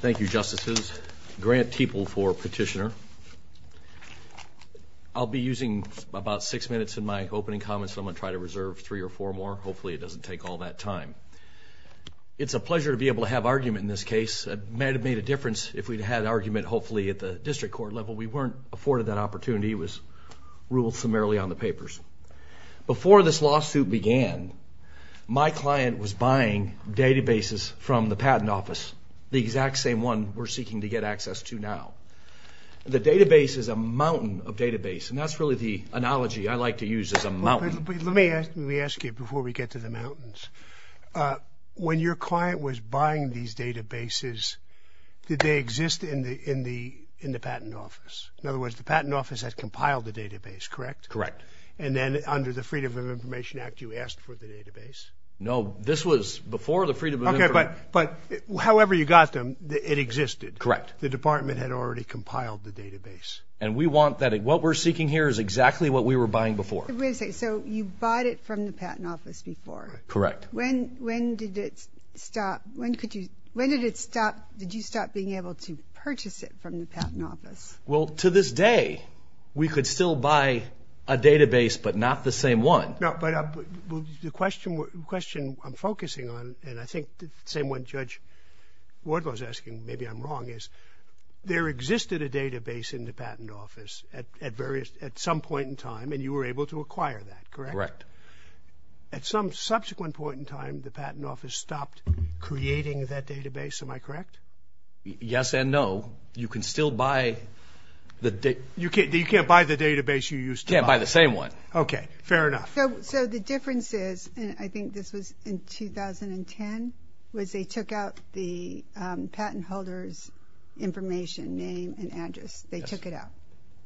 Thank You Justices. Grant Teeple for petitioner. I'll be using about six minutes in my opening comments. I'm going to try to reserve three or four more. Hopefully it doesn't take all that time. It's a pleasure to be able to have argument in this case. It may have made a difference if we'd had argument hopefully at the district court level. We weren't afforded that opportunity. It was ruled summarily on the papers. Before this lawsuit began my client was buying databases from the patent office. The exact same one we're seeking to get access to now. The database is a mountain of database and that's really the analogy I like to use as a mountain. Let me ask you before we get to the mountains. When your client was buying these databases did they exist in the patent office? In other words the patent office has compiled the database correct? Correct. And then under the Freedom of Information Act you asked for the Freedom of Information Act. However you got them it existed. Correct. The department had already compiled the database. And we want that. What we're seeking here is exactly what we were buying before. So you bought it from the patent office before. Correct. When did it stop? When did it stop? Did you stop being able to purchase it from the patent office? Well to this day we could still buy a database but not the same one. The question I'm focusing on and I think the same one Judge Ward was asking maybe I'm wrong is there existed a database in the patent office at various at some point in time and you were able to acquire that. Correct. At some subsequent point in time the patent office stopped creating that database. Am I correct? Yes and no. You can still buy. You can't buy the database you used to buy. You can't buy the database. The difference is and I think this was in 2010 was they took out the patent holders information name and address. They took it out.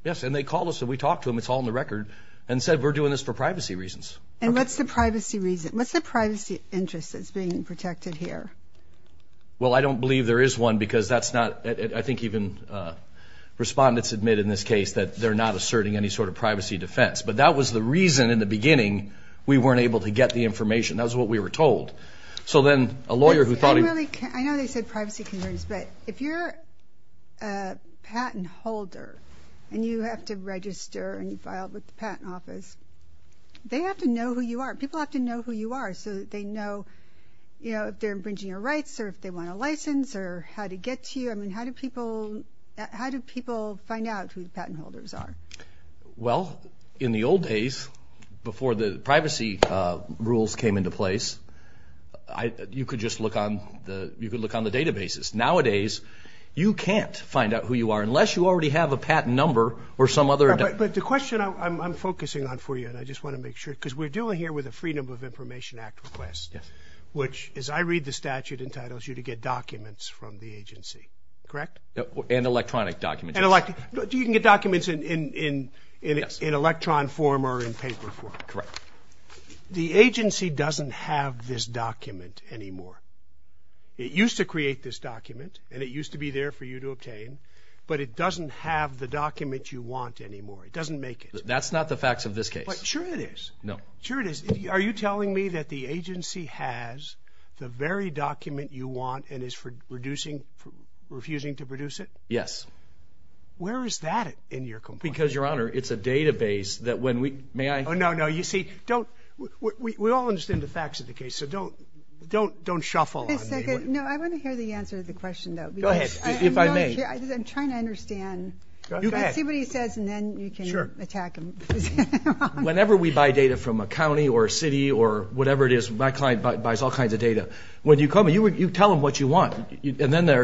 Yes and they called us and we talked to them it's all in the record and said we're doing this for privacy reasons. And what's the privacy reason? What's the privacy interest that's being protected here? Well I don't believe there is one because that's not I think even respondents admit in this case that they're not asserting any sort of privacy defense. But that was the reason in the beginning we weren't able to get the information. That's what we were told. So then a lawyer who thought I know they said privacy concerns but if you're a patent holder and you have to register and file with the patent office they have to know who you are. People have to know who you are so that they know you know if they're infringing your rights or if they want a license or how to get to you. I mean how do people how Well in the old days before the privacy rules came into place I you could just look on the you could look on the databases. Nowadays you can't find out who you are unless you already have a patent number or some other. But the question I'm focusing on for you and I just want to make sure because we're doing here with a Freedom of Information Act request. Yes. Which as I read the statute entitles you to get documents from the agency correct? And electronic documents. You can get documents in electron form or in paper form. Correct. The agency doesn't have this document anymore. It used to create this document and it used to be there for you to obtain but it doesn't have the document you want anymore. It doesn't make it. That's not the facts of this case. Sure it is. No. Sure it is. Are you telling me that the agency has the very refusing to produce it? Yes. Where is that in your complaint? Because your honor it's a database that when we may I oh no no you see don't we all understand the facts of the case so don't don't don't shuffle. No I want to hear the answer to the question though. Go ahead. If I may. I'm trying to understand. See what he says and then you can attack him. Whenever we buy data from a county or city or whatever it is my client buys all kinds of data. When their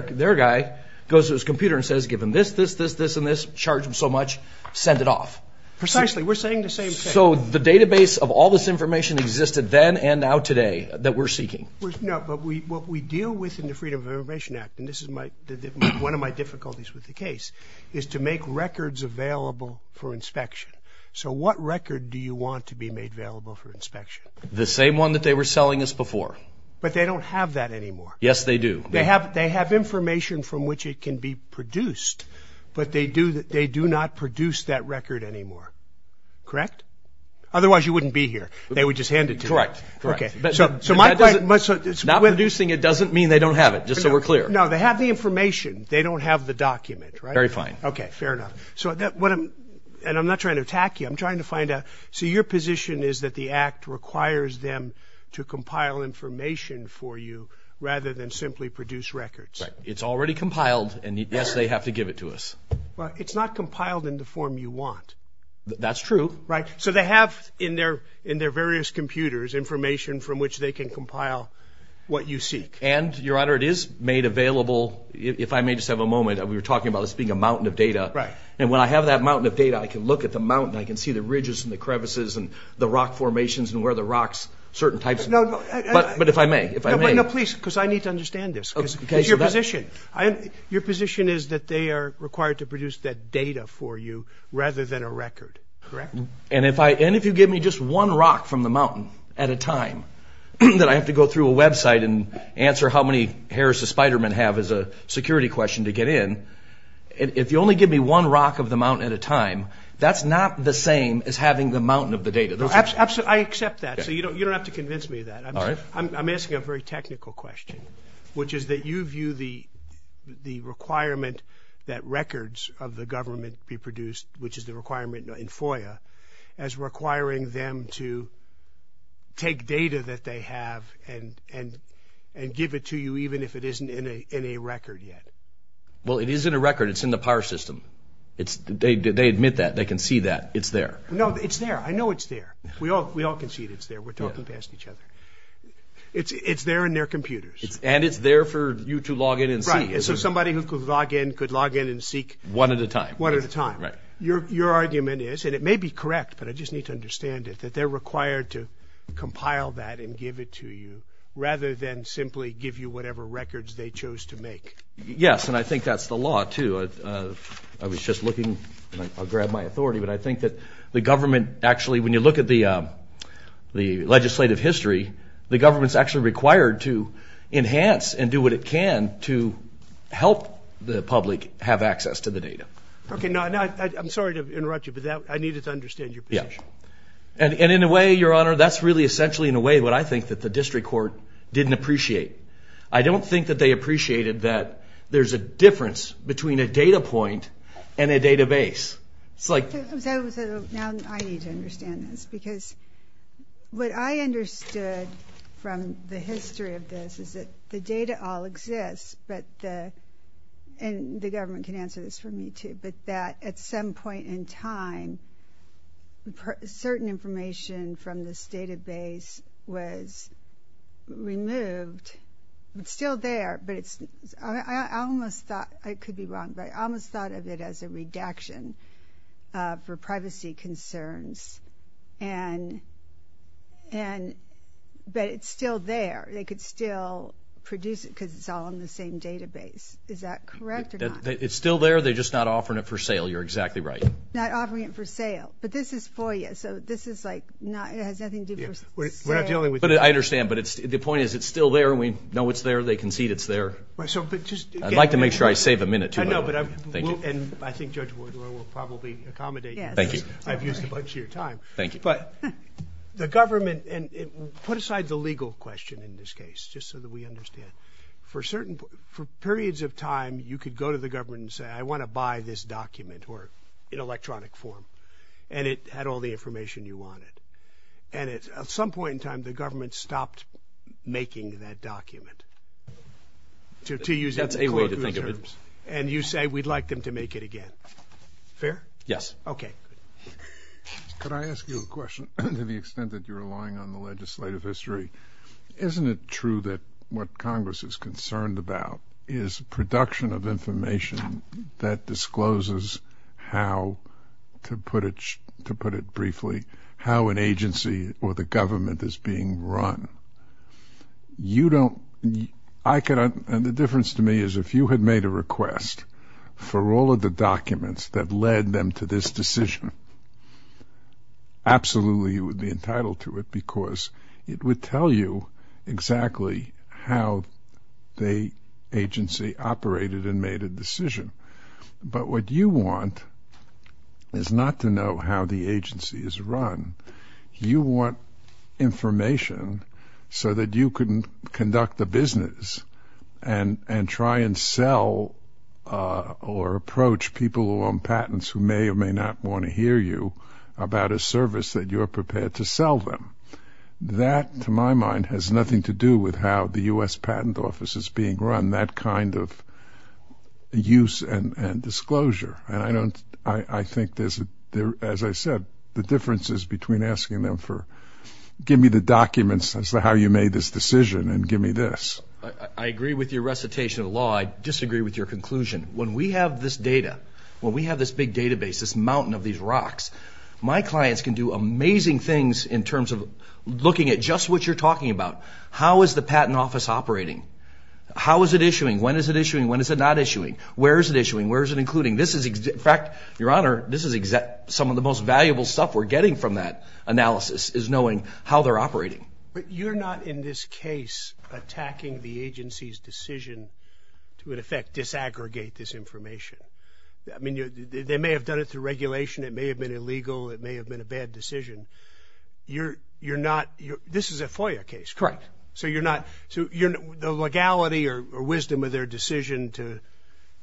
their guy goes to his computer and says give him this this this this and this charge him so much send it off. Precisely we're saying the same thing. So the database of all this information existed then and now today that we're seeking. No but we what we deal with in the Freedom of Information Act and this is my one of my difficulties with the case is to make records available for inspection. So what record do you want to be made available for inspection? The same one that they were selling us before. But they don't have that anymore. Yes they do. They have they have information from which it can be produced but they do that they do not produce that record anymore. Correct? Otherwise you wouldn't be here. They would just hand it to you. Correct. Okay. So my question. Not producing it doesn't mean they don't have it just so we're clear. No they have the information they don't have the document. Very fine. Okay fair enough. So that what I'm and I'm not trying to attack you I'm trying to find out so your position is that the act requires them to compile information for you rather than simply produce records. It's already compiled and yes they have to give it to us. Well it's not compiled in the form you want. That's true. Right so they have in their in their various computers information from which they can compile what you seek. And your honor it is made available if I may just have a moment we were talking about this being a mountain of data. Right. And when I have that mountain of data I can look at the mountain I can see the ridges and the crevices and the rock formations and where the rocks certain types. No but if I may if I may. No please because I need to understand this. Okay. Your position I your position is that they are required to produce that data for you rather than a record. Correct. And if I and if you give me just one rock from the mountain at a time that I have to go through a website and answer how many hairs the spider-man have as a security question to get in and if you only give me one rock of the mountain at a time that's not the same as having the mountain of the data. Absolutely I accept that so you don't you don't have to convince me of I'm asking a very technical question which is that you view the the requirement that records of the government be produced which is the requirement in FOIA as requiring them to take data that they have and and and give it to you even if it isn't in a record yet. Well it isn't a record it's in the power system it's they admit that they can see that it's there. No it's there I know it's there we all we all can see it it's there we're talking past each other. It's it's there in their computers. And it's there for you to log in and see. So somebody who could log in could log in and seek. One at a time. One at a time. Right. Your your argument is and it may be correct but I just need to understand it that they're required to compile that and give it to you rather than simply give you whatever records they chose to make. Yes and I think that's the law too. I was just looking I'll grab my authority but I think that the government actually when you look at the the legislative history the government's actually required to enhance and do what it can to help the public have access to the data. Okay now I'm sorry to interrupt you but I needed to understand your position. And in a way your honor that's really essentially in a way what I think that the district court didn't appreciate. I don't think that they appreciated that there's a difference between a data point and a Now I need to understand this because what I understood from the history of this is that the data all exists but the and the government can answer this for me too but that at some point in time certain information from this database was removed. It's still there but it's I almost thought I could be wrong but I almost thought of it as a redaction for privacy concerns and and but it's still there they could still produce it because it's all in the same database is that correct? It's still there they're just not offering it for sale you're exactly right. Not offering it for sale but this is for you so this is like not it has nothing to do with it. I understand but it's the point is it's still there we know it's there they concede it's there. I'd like to make sure I save a minute. I know but I think judge will probably accommodate thank you I've used a bunch of your time thank you but the government and put aside the legal question in this case just so that we understand for certain for periods of time you could go to the government and say I want to buy this document or in electronic form and it had all the information you wanted and it's at some point in time the government stopped making that document to use that's a way to think of it and you say we'd like them to make it again fair? Yes. Okay. Could I ask you a question to the extent that you're relying on the legislative history isn't it true that what Congress is concerned about is production of information that discloses how to put it to put it I could and the difference to me is if you had made a request for all of the documents that led them to this decision absolutely you would be entitled to it because it would tell you exactly how the agency operated and made a decision but what you want is not to know how the agency is run you want information so that you couldn't conduct the business and and try and sell or approach people who own patents who may or may not want to hear you about a service that you're prepared to sell them that to my mind has nothing to do with how the US patent office is being run that kind of use and and disclosure and I don't I I think there's a there as I said the differences between asking them for give me the documents as to how you made this decision and give me this I agree with your recitation of law I disagree with your conclusion when we have this data when we have this big database this mountain of these rocks my clients can do amazing things in terms of looking at just what you're talking about how is the patent office operating how is it issuing when is it issuing when is it not issuing where is it issuing where is it including this is in fact your honor this is exact some of the most valuable stuff we're getting from that analysis is knowing how they're operating but you're not in this case attacking the agency's decision to in effect disaggregate this information I mean you they may have done it through regulation it may have been illegal it may have been a bad decision you're you're not you this is a FOIA case correct so you're not so you're the legality or wisdom of their decision to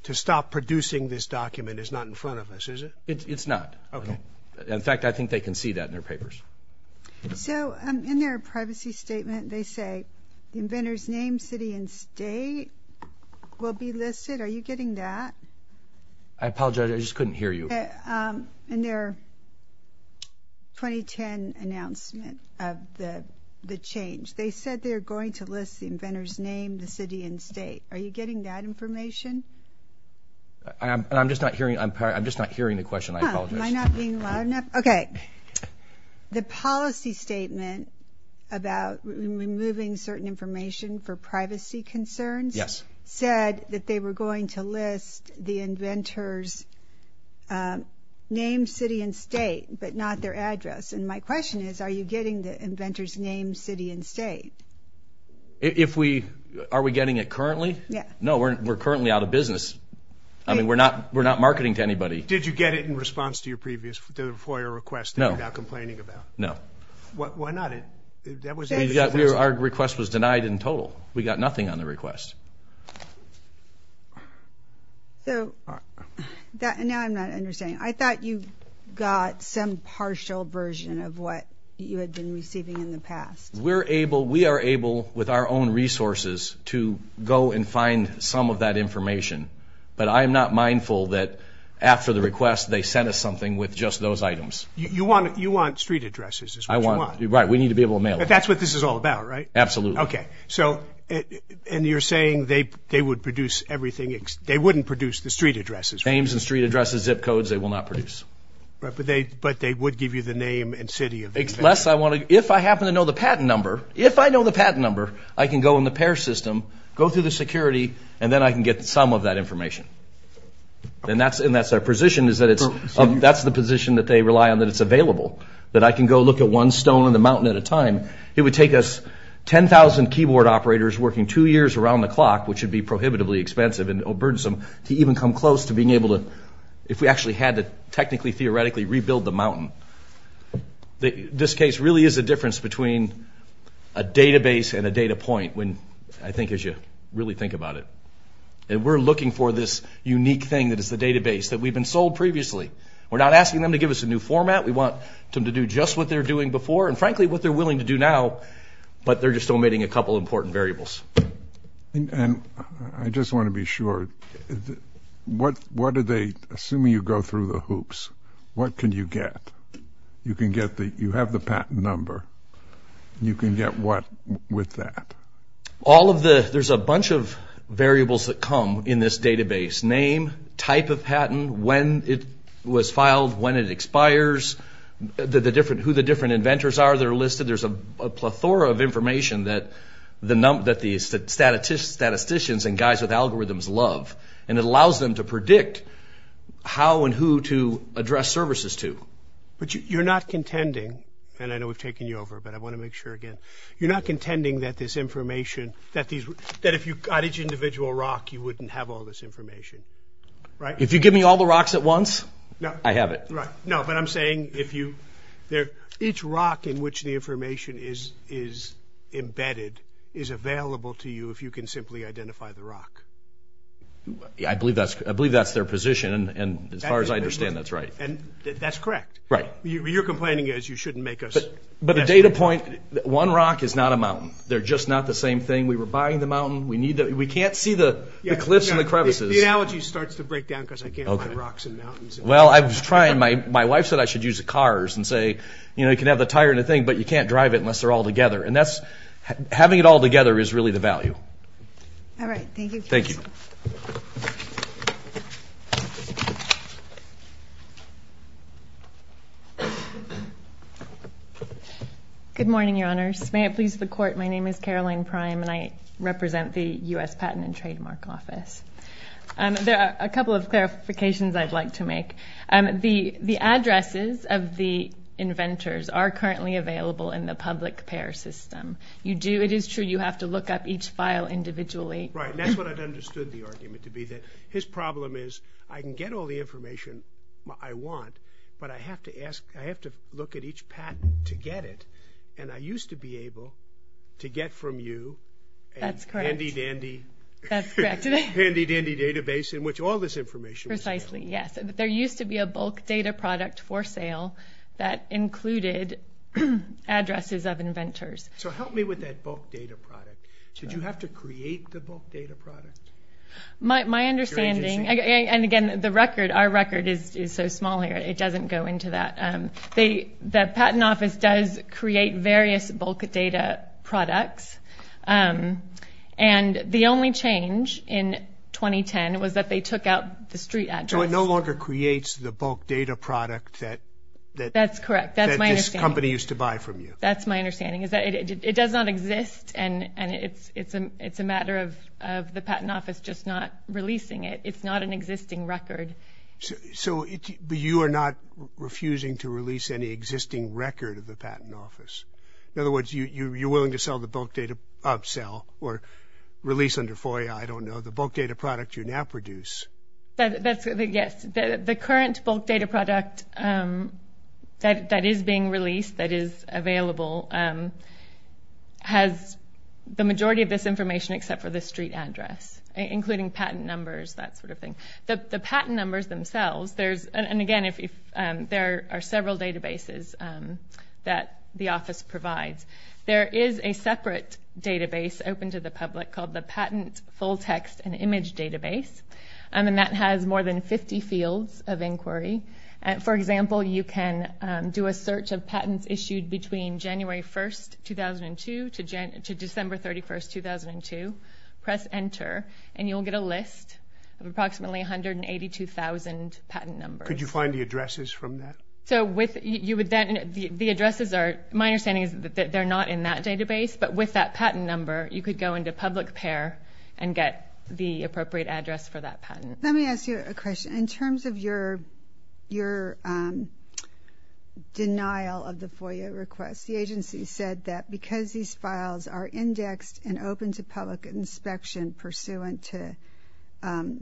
to stop producing this document is not in front of us is it it's not okay in fact I can see that in their papers so in their privacy statement they say inventors name city and state will be listed are you getting that I apologize I just couldn't hear you and their 2010 announcement of the the change they said they're going to list the inventors name the city and state are you getting that information I'm just not hearing I'm sorry I'm just not hearing the question okay the policy statement about removing certain information for privacy concerns yes said that they were going to list the inventors name city and state but not their address and my question is are you getting the inventors name city and state if we are we getting it currently yeah no we're currently out of business I mean we're not we're not marketing to anybody did you get it in response to your previous for your request no complaining about no what why not it that was our request was denied in total we got nothing on the request so that and I'm not understanding I thought you got some partial version of what you had been receiving in the past we're able we are able with our own resources to go and find some of that information but I'm not mindful that after the request they sent us something with just those items you want you want street addresses I want you right we need to be able to mail but that's what this is all about right absolutely okay so and you're saying they they would produce everything they wouldn't produce the street addresses names and street addresses zip codes they will not produce but they but they would give you the name and city of it's less I want to if I happen to know the patent number if I know the patent number I can go in the pair system go through the security and then I can get some of that information and that's and that's our position is that it's that's the position that they rely on that it's available that I can go look at one stone in the mountain at a time it would take us 10,000 keyboard operators working two years around the clock which would be prohibitively expensive and burdensome to even come close to being able to if we actually had to technically theoretically rebuild the mountain this case really is a between a database and a data point when I think as you really think about it and we're looking for this unique thing that is the database that we've been sold previously we're not asking them to give us a new format we want them to do just what they're doing before and frankly what they're willing to do now but they're just omitting a couple important variables and I just want to be sure what what are they assuming you go through the hoops what can you get you can get the you have the patent number you can get what with that all of the there's a bunch of variables that come in this database name type of patent when it was filed when it expires the different who the different inventors are they're listed there's a plethora of information that the number that these statisticians and guys with algorithms love and it allows them to predict how and who to address services to but you're not contending and I know we've taken you over but I want to make sure again you're not contending that this information that these that if you got each individual rock you wouldn't have all this information right if you give me all the rocks at once no I have it right no but I'm saying if you there each rock in which the information is is embedded is available to you if you can simply I believe that's I believe that's their position and as far as I understand that's right and that's correct right you're complaining as you shouldn't make us but a data point that one rock is not a mountain they're just not the same thing we were buying the mountain we need that we can't see the cliffs and the crevices the analogy starts to break down because I can't open rocks and mountains well I was trying my my wife said I should use the cars and say you know you can have the tire and a thing but you can't drive it unless they're all together and that's having it all together is really the value thank you good morning your honors may it please the court my name is Caroline prime and I represent the US Patent and Trademark Office and there are a couple of clarifications I'd like to make and the the addresses of the inventors are currently available in the public pair system you do it is true you have to look up each file individually right that's what I've understood the argument to be that his problem is I can get all the information I want but I have to ask I have to look at each patent to get it and I used to be able to get from you that's handy-dandy handy-dandy database in which all this information precisely yes there used to be a bulk data product for sale that included addresses of inventors so help me with that bulk data product did you have to create the bulk data product my understanding and again the record our record is so small here it doesn't go into that they that patent office does create various bulk data products and the only change in 2010 was that they took out the street no longer creates the bulk data product that that's correct that's my company used to buy from you that's my understanding is that it does not exist and and it's it's a it's a matter of the patent office just not releasing it it's not an existing record so it you are not refusing to release any existing record of the patent office in other words you you're willing to sell the bulk data upsell or release under FOIA I don't know the bulk data product you now produce yes the current bulk data product that is being released that is available has the majority of this information except for the street address including patent numbers that sort of thing the patent numbers themselves there's and again if there are several databases that the office provides there is a separate database open to the public called the patent full-text and image database and then that has more than 50 fields of inquiry and for example you can do a search of patents issued between January 1st 2002 to Jen to December 31st 2002 press ENTER and you'll get a list of approximately 182,000 patent numbers you find the addresses from that so with you would then the addresses are my understanding is that they're not in that database but with that patent number you could go into public pair and get the appropriate address for that patent let me ask you a question in terms of your your denial of the FOIA request the agency said that because these files are indexed and open to public inspection pursuant to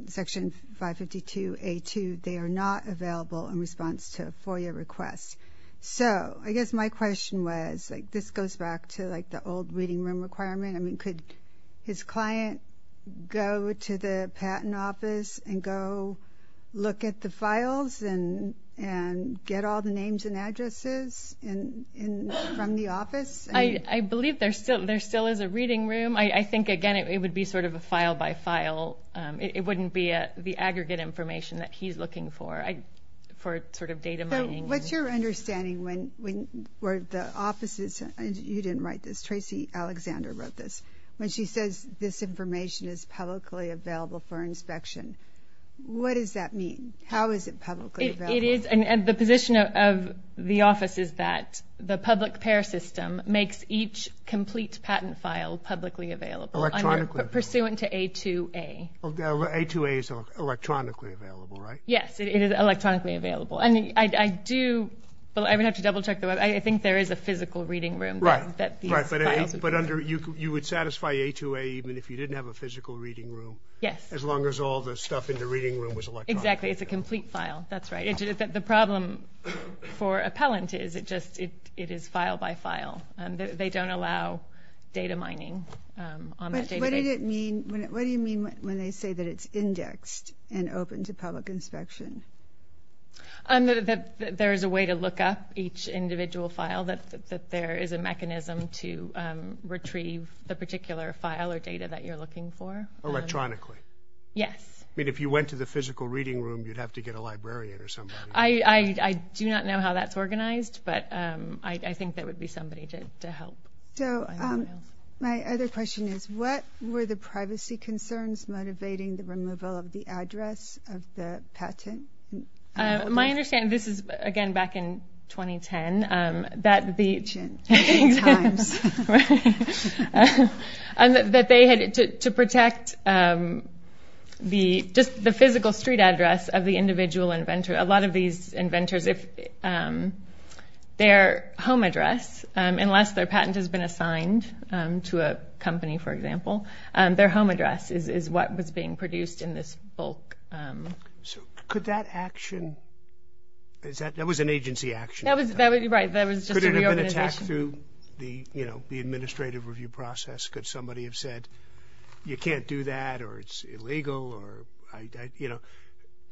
section 552 a2 they are not available in response to FOIA requests so I guess my question was like this goes back to like the old reading room requirement I mean could his client go to the patent office and go look at the files and and get all the names and addresses and in from the office I I believe there's still there still is a reading room I I think again it would be sort of a file-by-file it wouldn't be a the aggregate information that he's looking for I for sort of data mining what's your understanding when where the offices and you didn't write this Tracy Alexander wrote this when she says this information is publicly available for inspection what does that mean how is it publicly it is and the position of the office is that the public pair system makes each complete patent file publicly available electronic pursuant to a to a a to a is electronically available right yes it is I think there is a physical reading room right but under you you would satisfy a to a even if you didn't have a physical reading room yes as long as all the stuff in the reading room was exactly it's a complete file that's right it is that the problem for appellant is it just it is file by file and they don't allow data mining what do you mean when they say that it's indexed and open to public inspection and that there is a way to look up each individual file that there is a mechanism to retrieve the particular file or data that you're looking for electronically yes I mean if you went to the physical reading room you'd have to get a librarian or something I I do not know how that's organized but I think that would be somebody to help so my other question is what were the privacy concerns motivating the removal of the address of the patent my understanding this is again back in 2010 that they had to protect the just the physical street address of the individual inventor a lot of these inventors if their home address unless their patent has been assigned to a company for example their home address is what was being produced in this bulk could that action is that there was an agency action that was that would be right there was just an attack through the you know the administrative review process could somebody have said you can't do that or it's illegal or I you know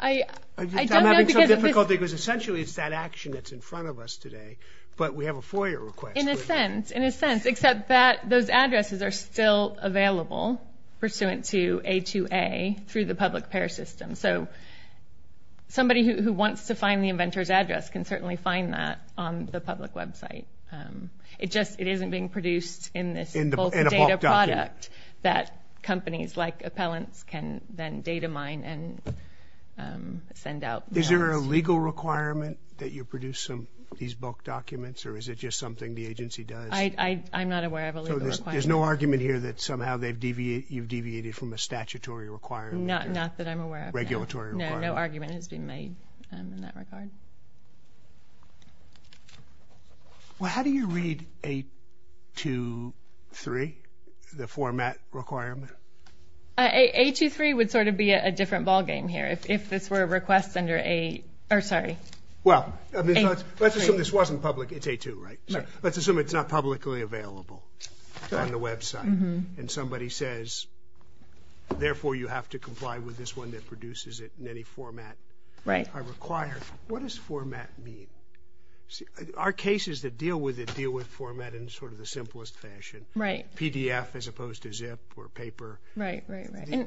I think was essentially it's that action that's in front of us today but we have a foyer request in a sense in a sense except that those addresses are still available pursuant to a to a through the public pair system so somebody who wants to find the inventors address can certainly find that on the public website it just it isn't being produced in this product that companies like appellants can then data mine and send out is there a legal requirement that you produce some these bulk documents or is it just something the hear that somehow they deviate you deviated from a statutory require not not that I'm aware of regulatory no argument has been made in that regard well how do you read a two three the format requirement a two three would sort of be a different ballgame here if this were a request under a or sorry well let's assume this wasn't public it's a two right let's assume it's not publicly available on the website and somebody says therefore you have to comply with this one that produces it in any format right I require what does format mean see our cases that deal with it deal with format in sort of the simplest fashion right PDF as opposed to zip or paper right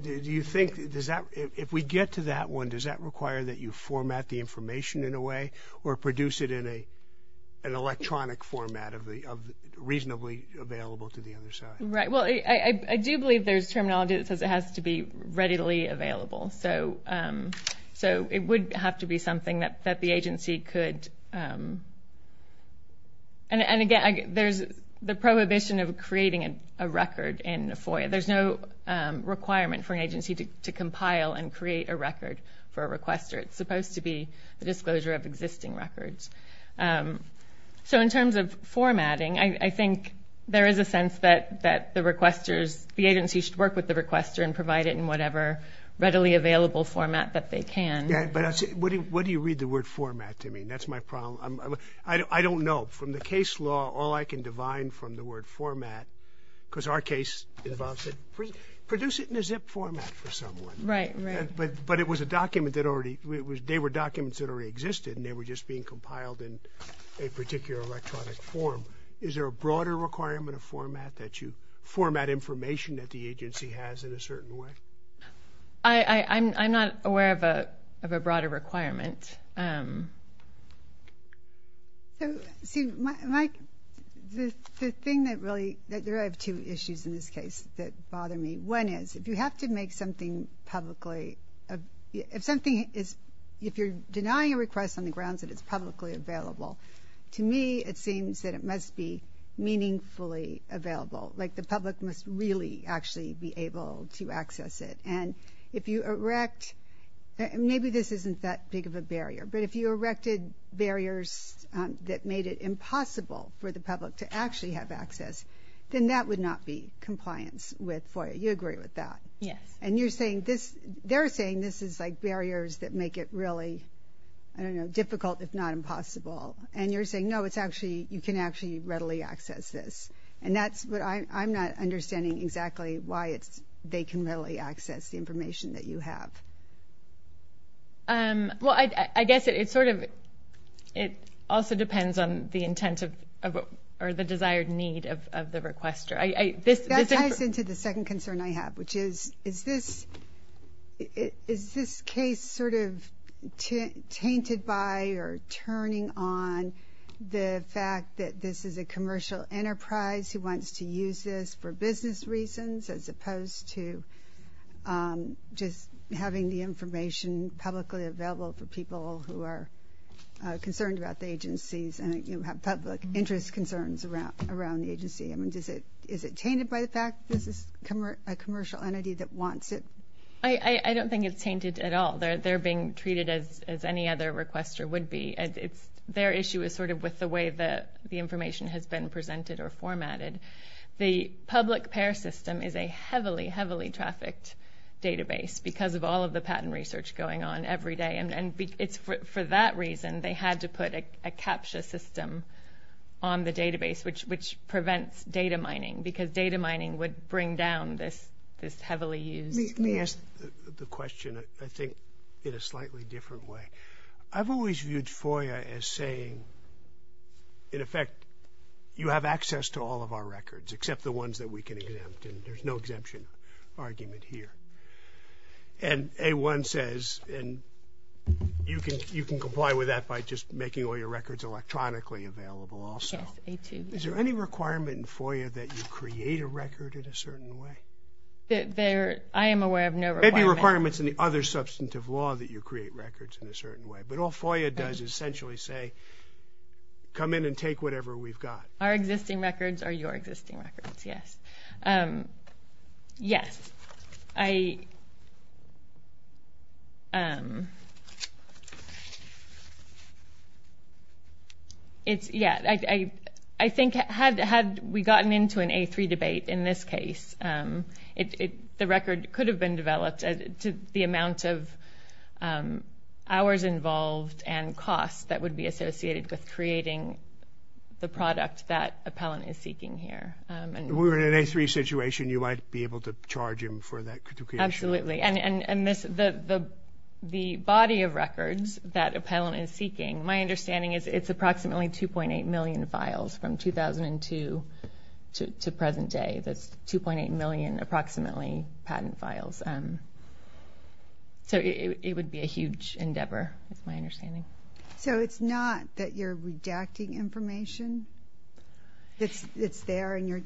do you think does that if we get to that one does that require that you format the information in a way or produce it in a an electronic format of the reasonably available to the other side right well I do believe there's terminology that says it has to be readily available so so it would have to be something that that the agency could and again there's the prohibition of creating a record in a FOIA there's no requirement for an agency to compile and create a record for a requester it's supposed to be the disclosure of existing records so in terms of formatting I think there is a sense that that the requesters the agency should work with the requester and provide it in whatever readily available format that they can yeah but what do you read the word format to me that's my problem I don't know from the case law all I can divine from the word format because our case involves it produce it in a zip format for someone right but but it was a document that already it was they were documents that already existed and they were just being compiled in a particular electronic form is there a broader requirement of format that you format information that the agency has in a certain way I I'm not aware of a of a broader requirement see Mike the thing that really that there are two issues in this case that bother me one is if you have to make something publicly if something is if you're denying a request on the grounds that it's publicly available to me it seems that it must be meaningfully available like the public must really actually be able to access it and if you erect maybe this isn't that big of a barrier but if you erected barriers that made it impossible for the public to actually have access then that would not be compliance with FOIA you agree with that yes and you're saying this they're saying this is like barriers that make it really I don't know difficult if not impossible and you're saying no it's actually you can actually readily access this and that's what I'm not understanding exactly why it's they can really access the information that you have well I guess it's sort of it also depends on the intent of or the desired need of the requester I this is into the second concern I have which is is this it is this case sort of tainted by or turning on the fact that this is a commercial enterprise who wants to use this for business reasons as opposed to just having the information publicly available for people who are concerned about the agencies and you have public interest concerns around around the agency I mean does it is it tainted by the fact this is a commercial entity that wants it I I don't think it's tainted at all they're they're being treated as as any other requester would be and it's their issue is sort of with the way that the information has been presented or formatted the public pair system is a heavily heavily trafficked database because of all of the patent research going on every day and it's for that reason they had to put a CAPTCHA system on the database which which prevents data mining because data mining would bring down this this heavily used yes the question I think in a slightly different way I've always viewed FOIA as saying in effect you have access to all of our records except the ones that we can exempt and there's no and you can you can comply with that by just making all your records electronically available also is there any requirement in FOIA that you create a record in a certain way there I am aware of no requirements in the other substantive law that you create records in a certain way but all FOIA does essentially say come in and take whatever we've got our existing records are your existing records yes yes I it's yeah I I think had had we gotten into an a3 debate in this case it the record could have been developed to the amount of hours involved and costs that the product that appellant is seeking here and we're in an a3 situation you might be able to charge him for that absolutely and and and this the the body of records that appellant is seeking my understanding is it's approximately 2.8 million files from 2002 to present day that's 2.8 million approximately patent files and so it would be a huge endeavor that's my understanding so it's not that you're redacting information it's it's there and you're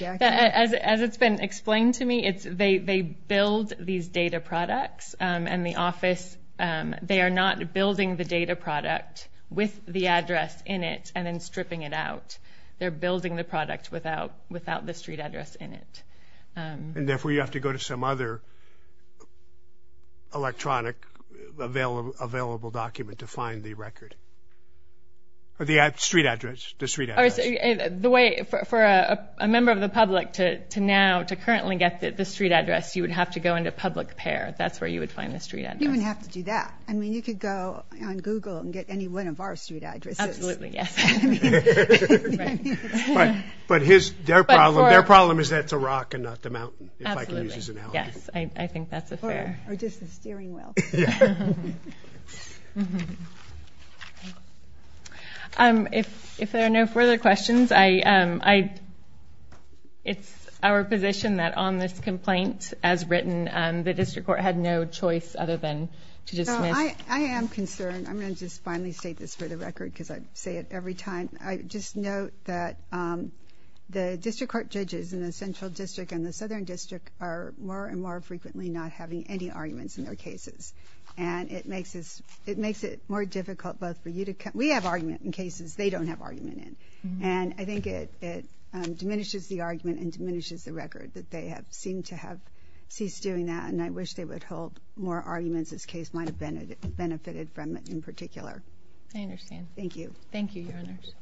as it's been explained to me it's they they build these data products and the office they are not building the data product with the address in it and then stripping it out they're building the product without without the street address in it and therefore you have to go to some other electronic available document to find the record or the app street address the street is the way for a member of the public to now to currently get the street address you would have to go into public pair that's where you would find the street and you wouldn't have to do that I mean you could go on Google and get any one of our street address absolutely yes but his their problem their problem is that's a rock and not yes I think that's if there are no further questions I I it's our position that on this complaint as written and the district court had no choice other than to just I am concerned I'm going to just finally state this for the record because I say it every time I just note that the district court judges in the central district and the southern district are more and more frequently not having any arguments in their cases and it makes us it makes it more difficult both for you to cut we have argument in cases they don't have argument in and I think it it diminishes the argument and diminishes the record that they have seemed to have ceased doing that and I wish they would hold more arguments this case might have been it benefited from it in particular I understand thank you thank you your honors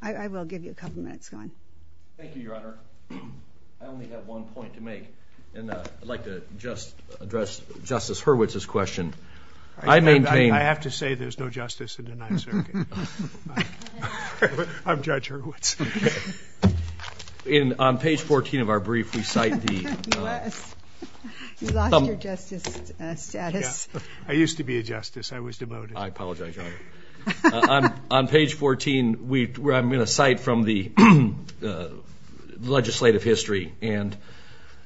I will give you a couple minutes going thank you your honor I only have one point to make and I'd like to just address justice Hurwitz this question I maintain I have to say there's no justice in the 9th Circuit I'm judge Hurwitz in on page 14 of our brief we cite the I used to be a justice I was devoted I apologize I'm on page 14 we I'm in a site from the legislative history and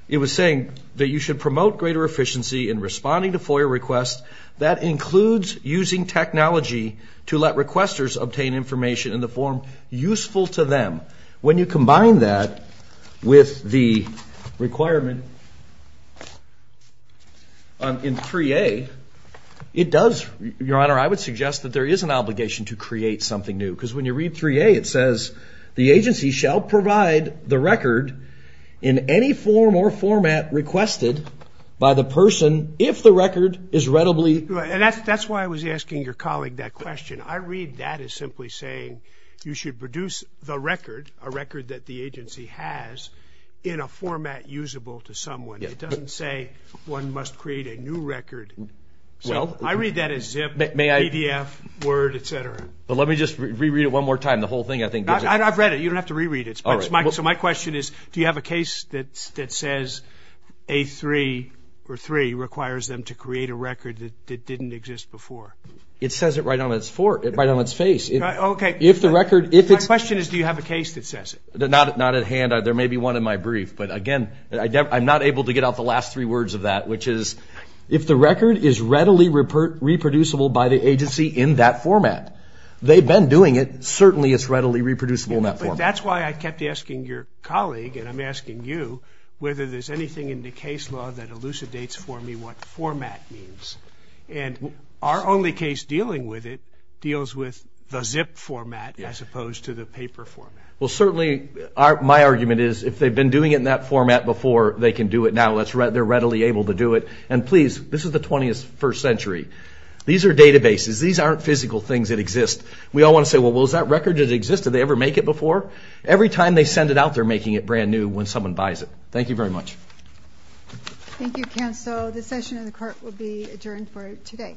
it was saying that you should promote greater efficiency in responding to FOIA requests that includes using technology to let requesters obtain information in the form useful to them when you combine that with the requirement in 3a it does your honor I would suggest that there is an obligation to create something new because when you read 3a it says the agency shall provide the record in any form or format requested by the person if the record is readily and that's that's why I was asking your colleague that question I read that is simply saying you should produce the record a record that the agency has in a format usable to someone it doesn't say one must create a new record well I read that as if it may IDF word etc but let me just reread it one more time the whole thing I think I've read it you don't have to reread it so my question is do you have a case that that says a three or three requires them to create a record that didn't exist before it says it right on its for it right on its face okay if the record if it's question is do you have a case that says they're not not at hand there may be one in my brief but again I'm not able to get out the last three words of that which is if the record is readily report reproducible by the agency in that format they've been doing it certainly it's readily reproducible that's why I kept asking your colleague and I'm asking you whether there's anything in the case law that elucidates for me what format means and our only case dealing with it deals with the zip format as opposed to the paper format well certainly our my argument is if they've do it now let's read they're readily able to do it and please this is the 21st century these are databases these aren't physical things that exist we all want to say well was that record it existed they ever make it before every time they send it out they're making it brand new when someone buys it thank you very much thank you can so the session in the court will be adjourned for today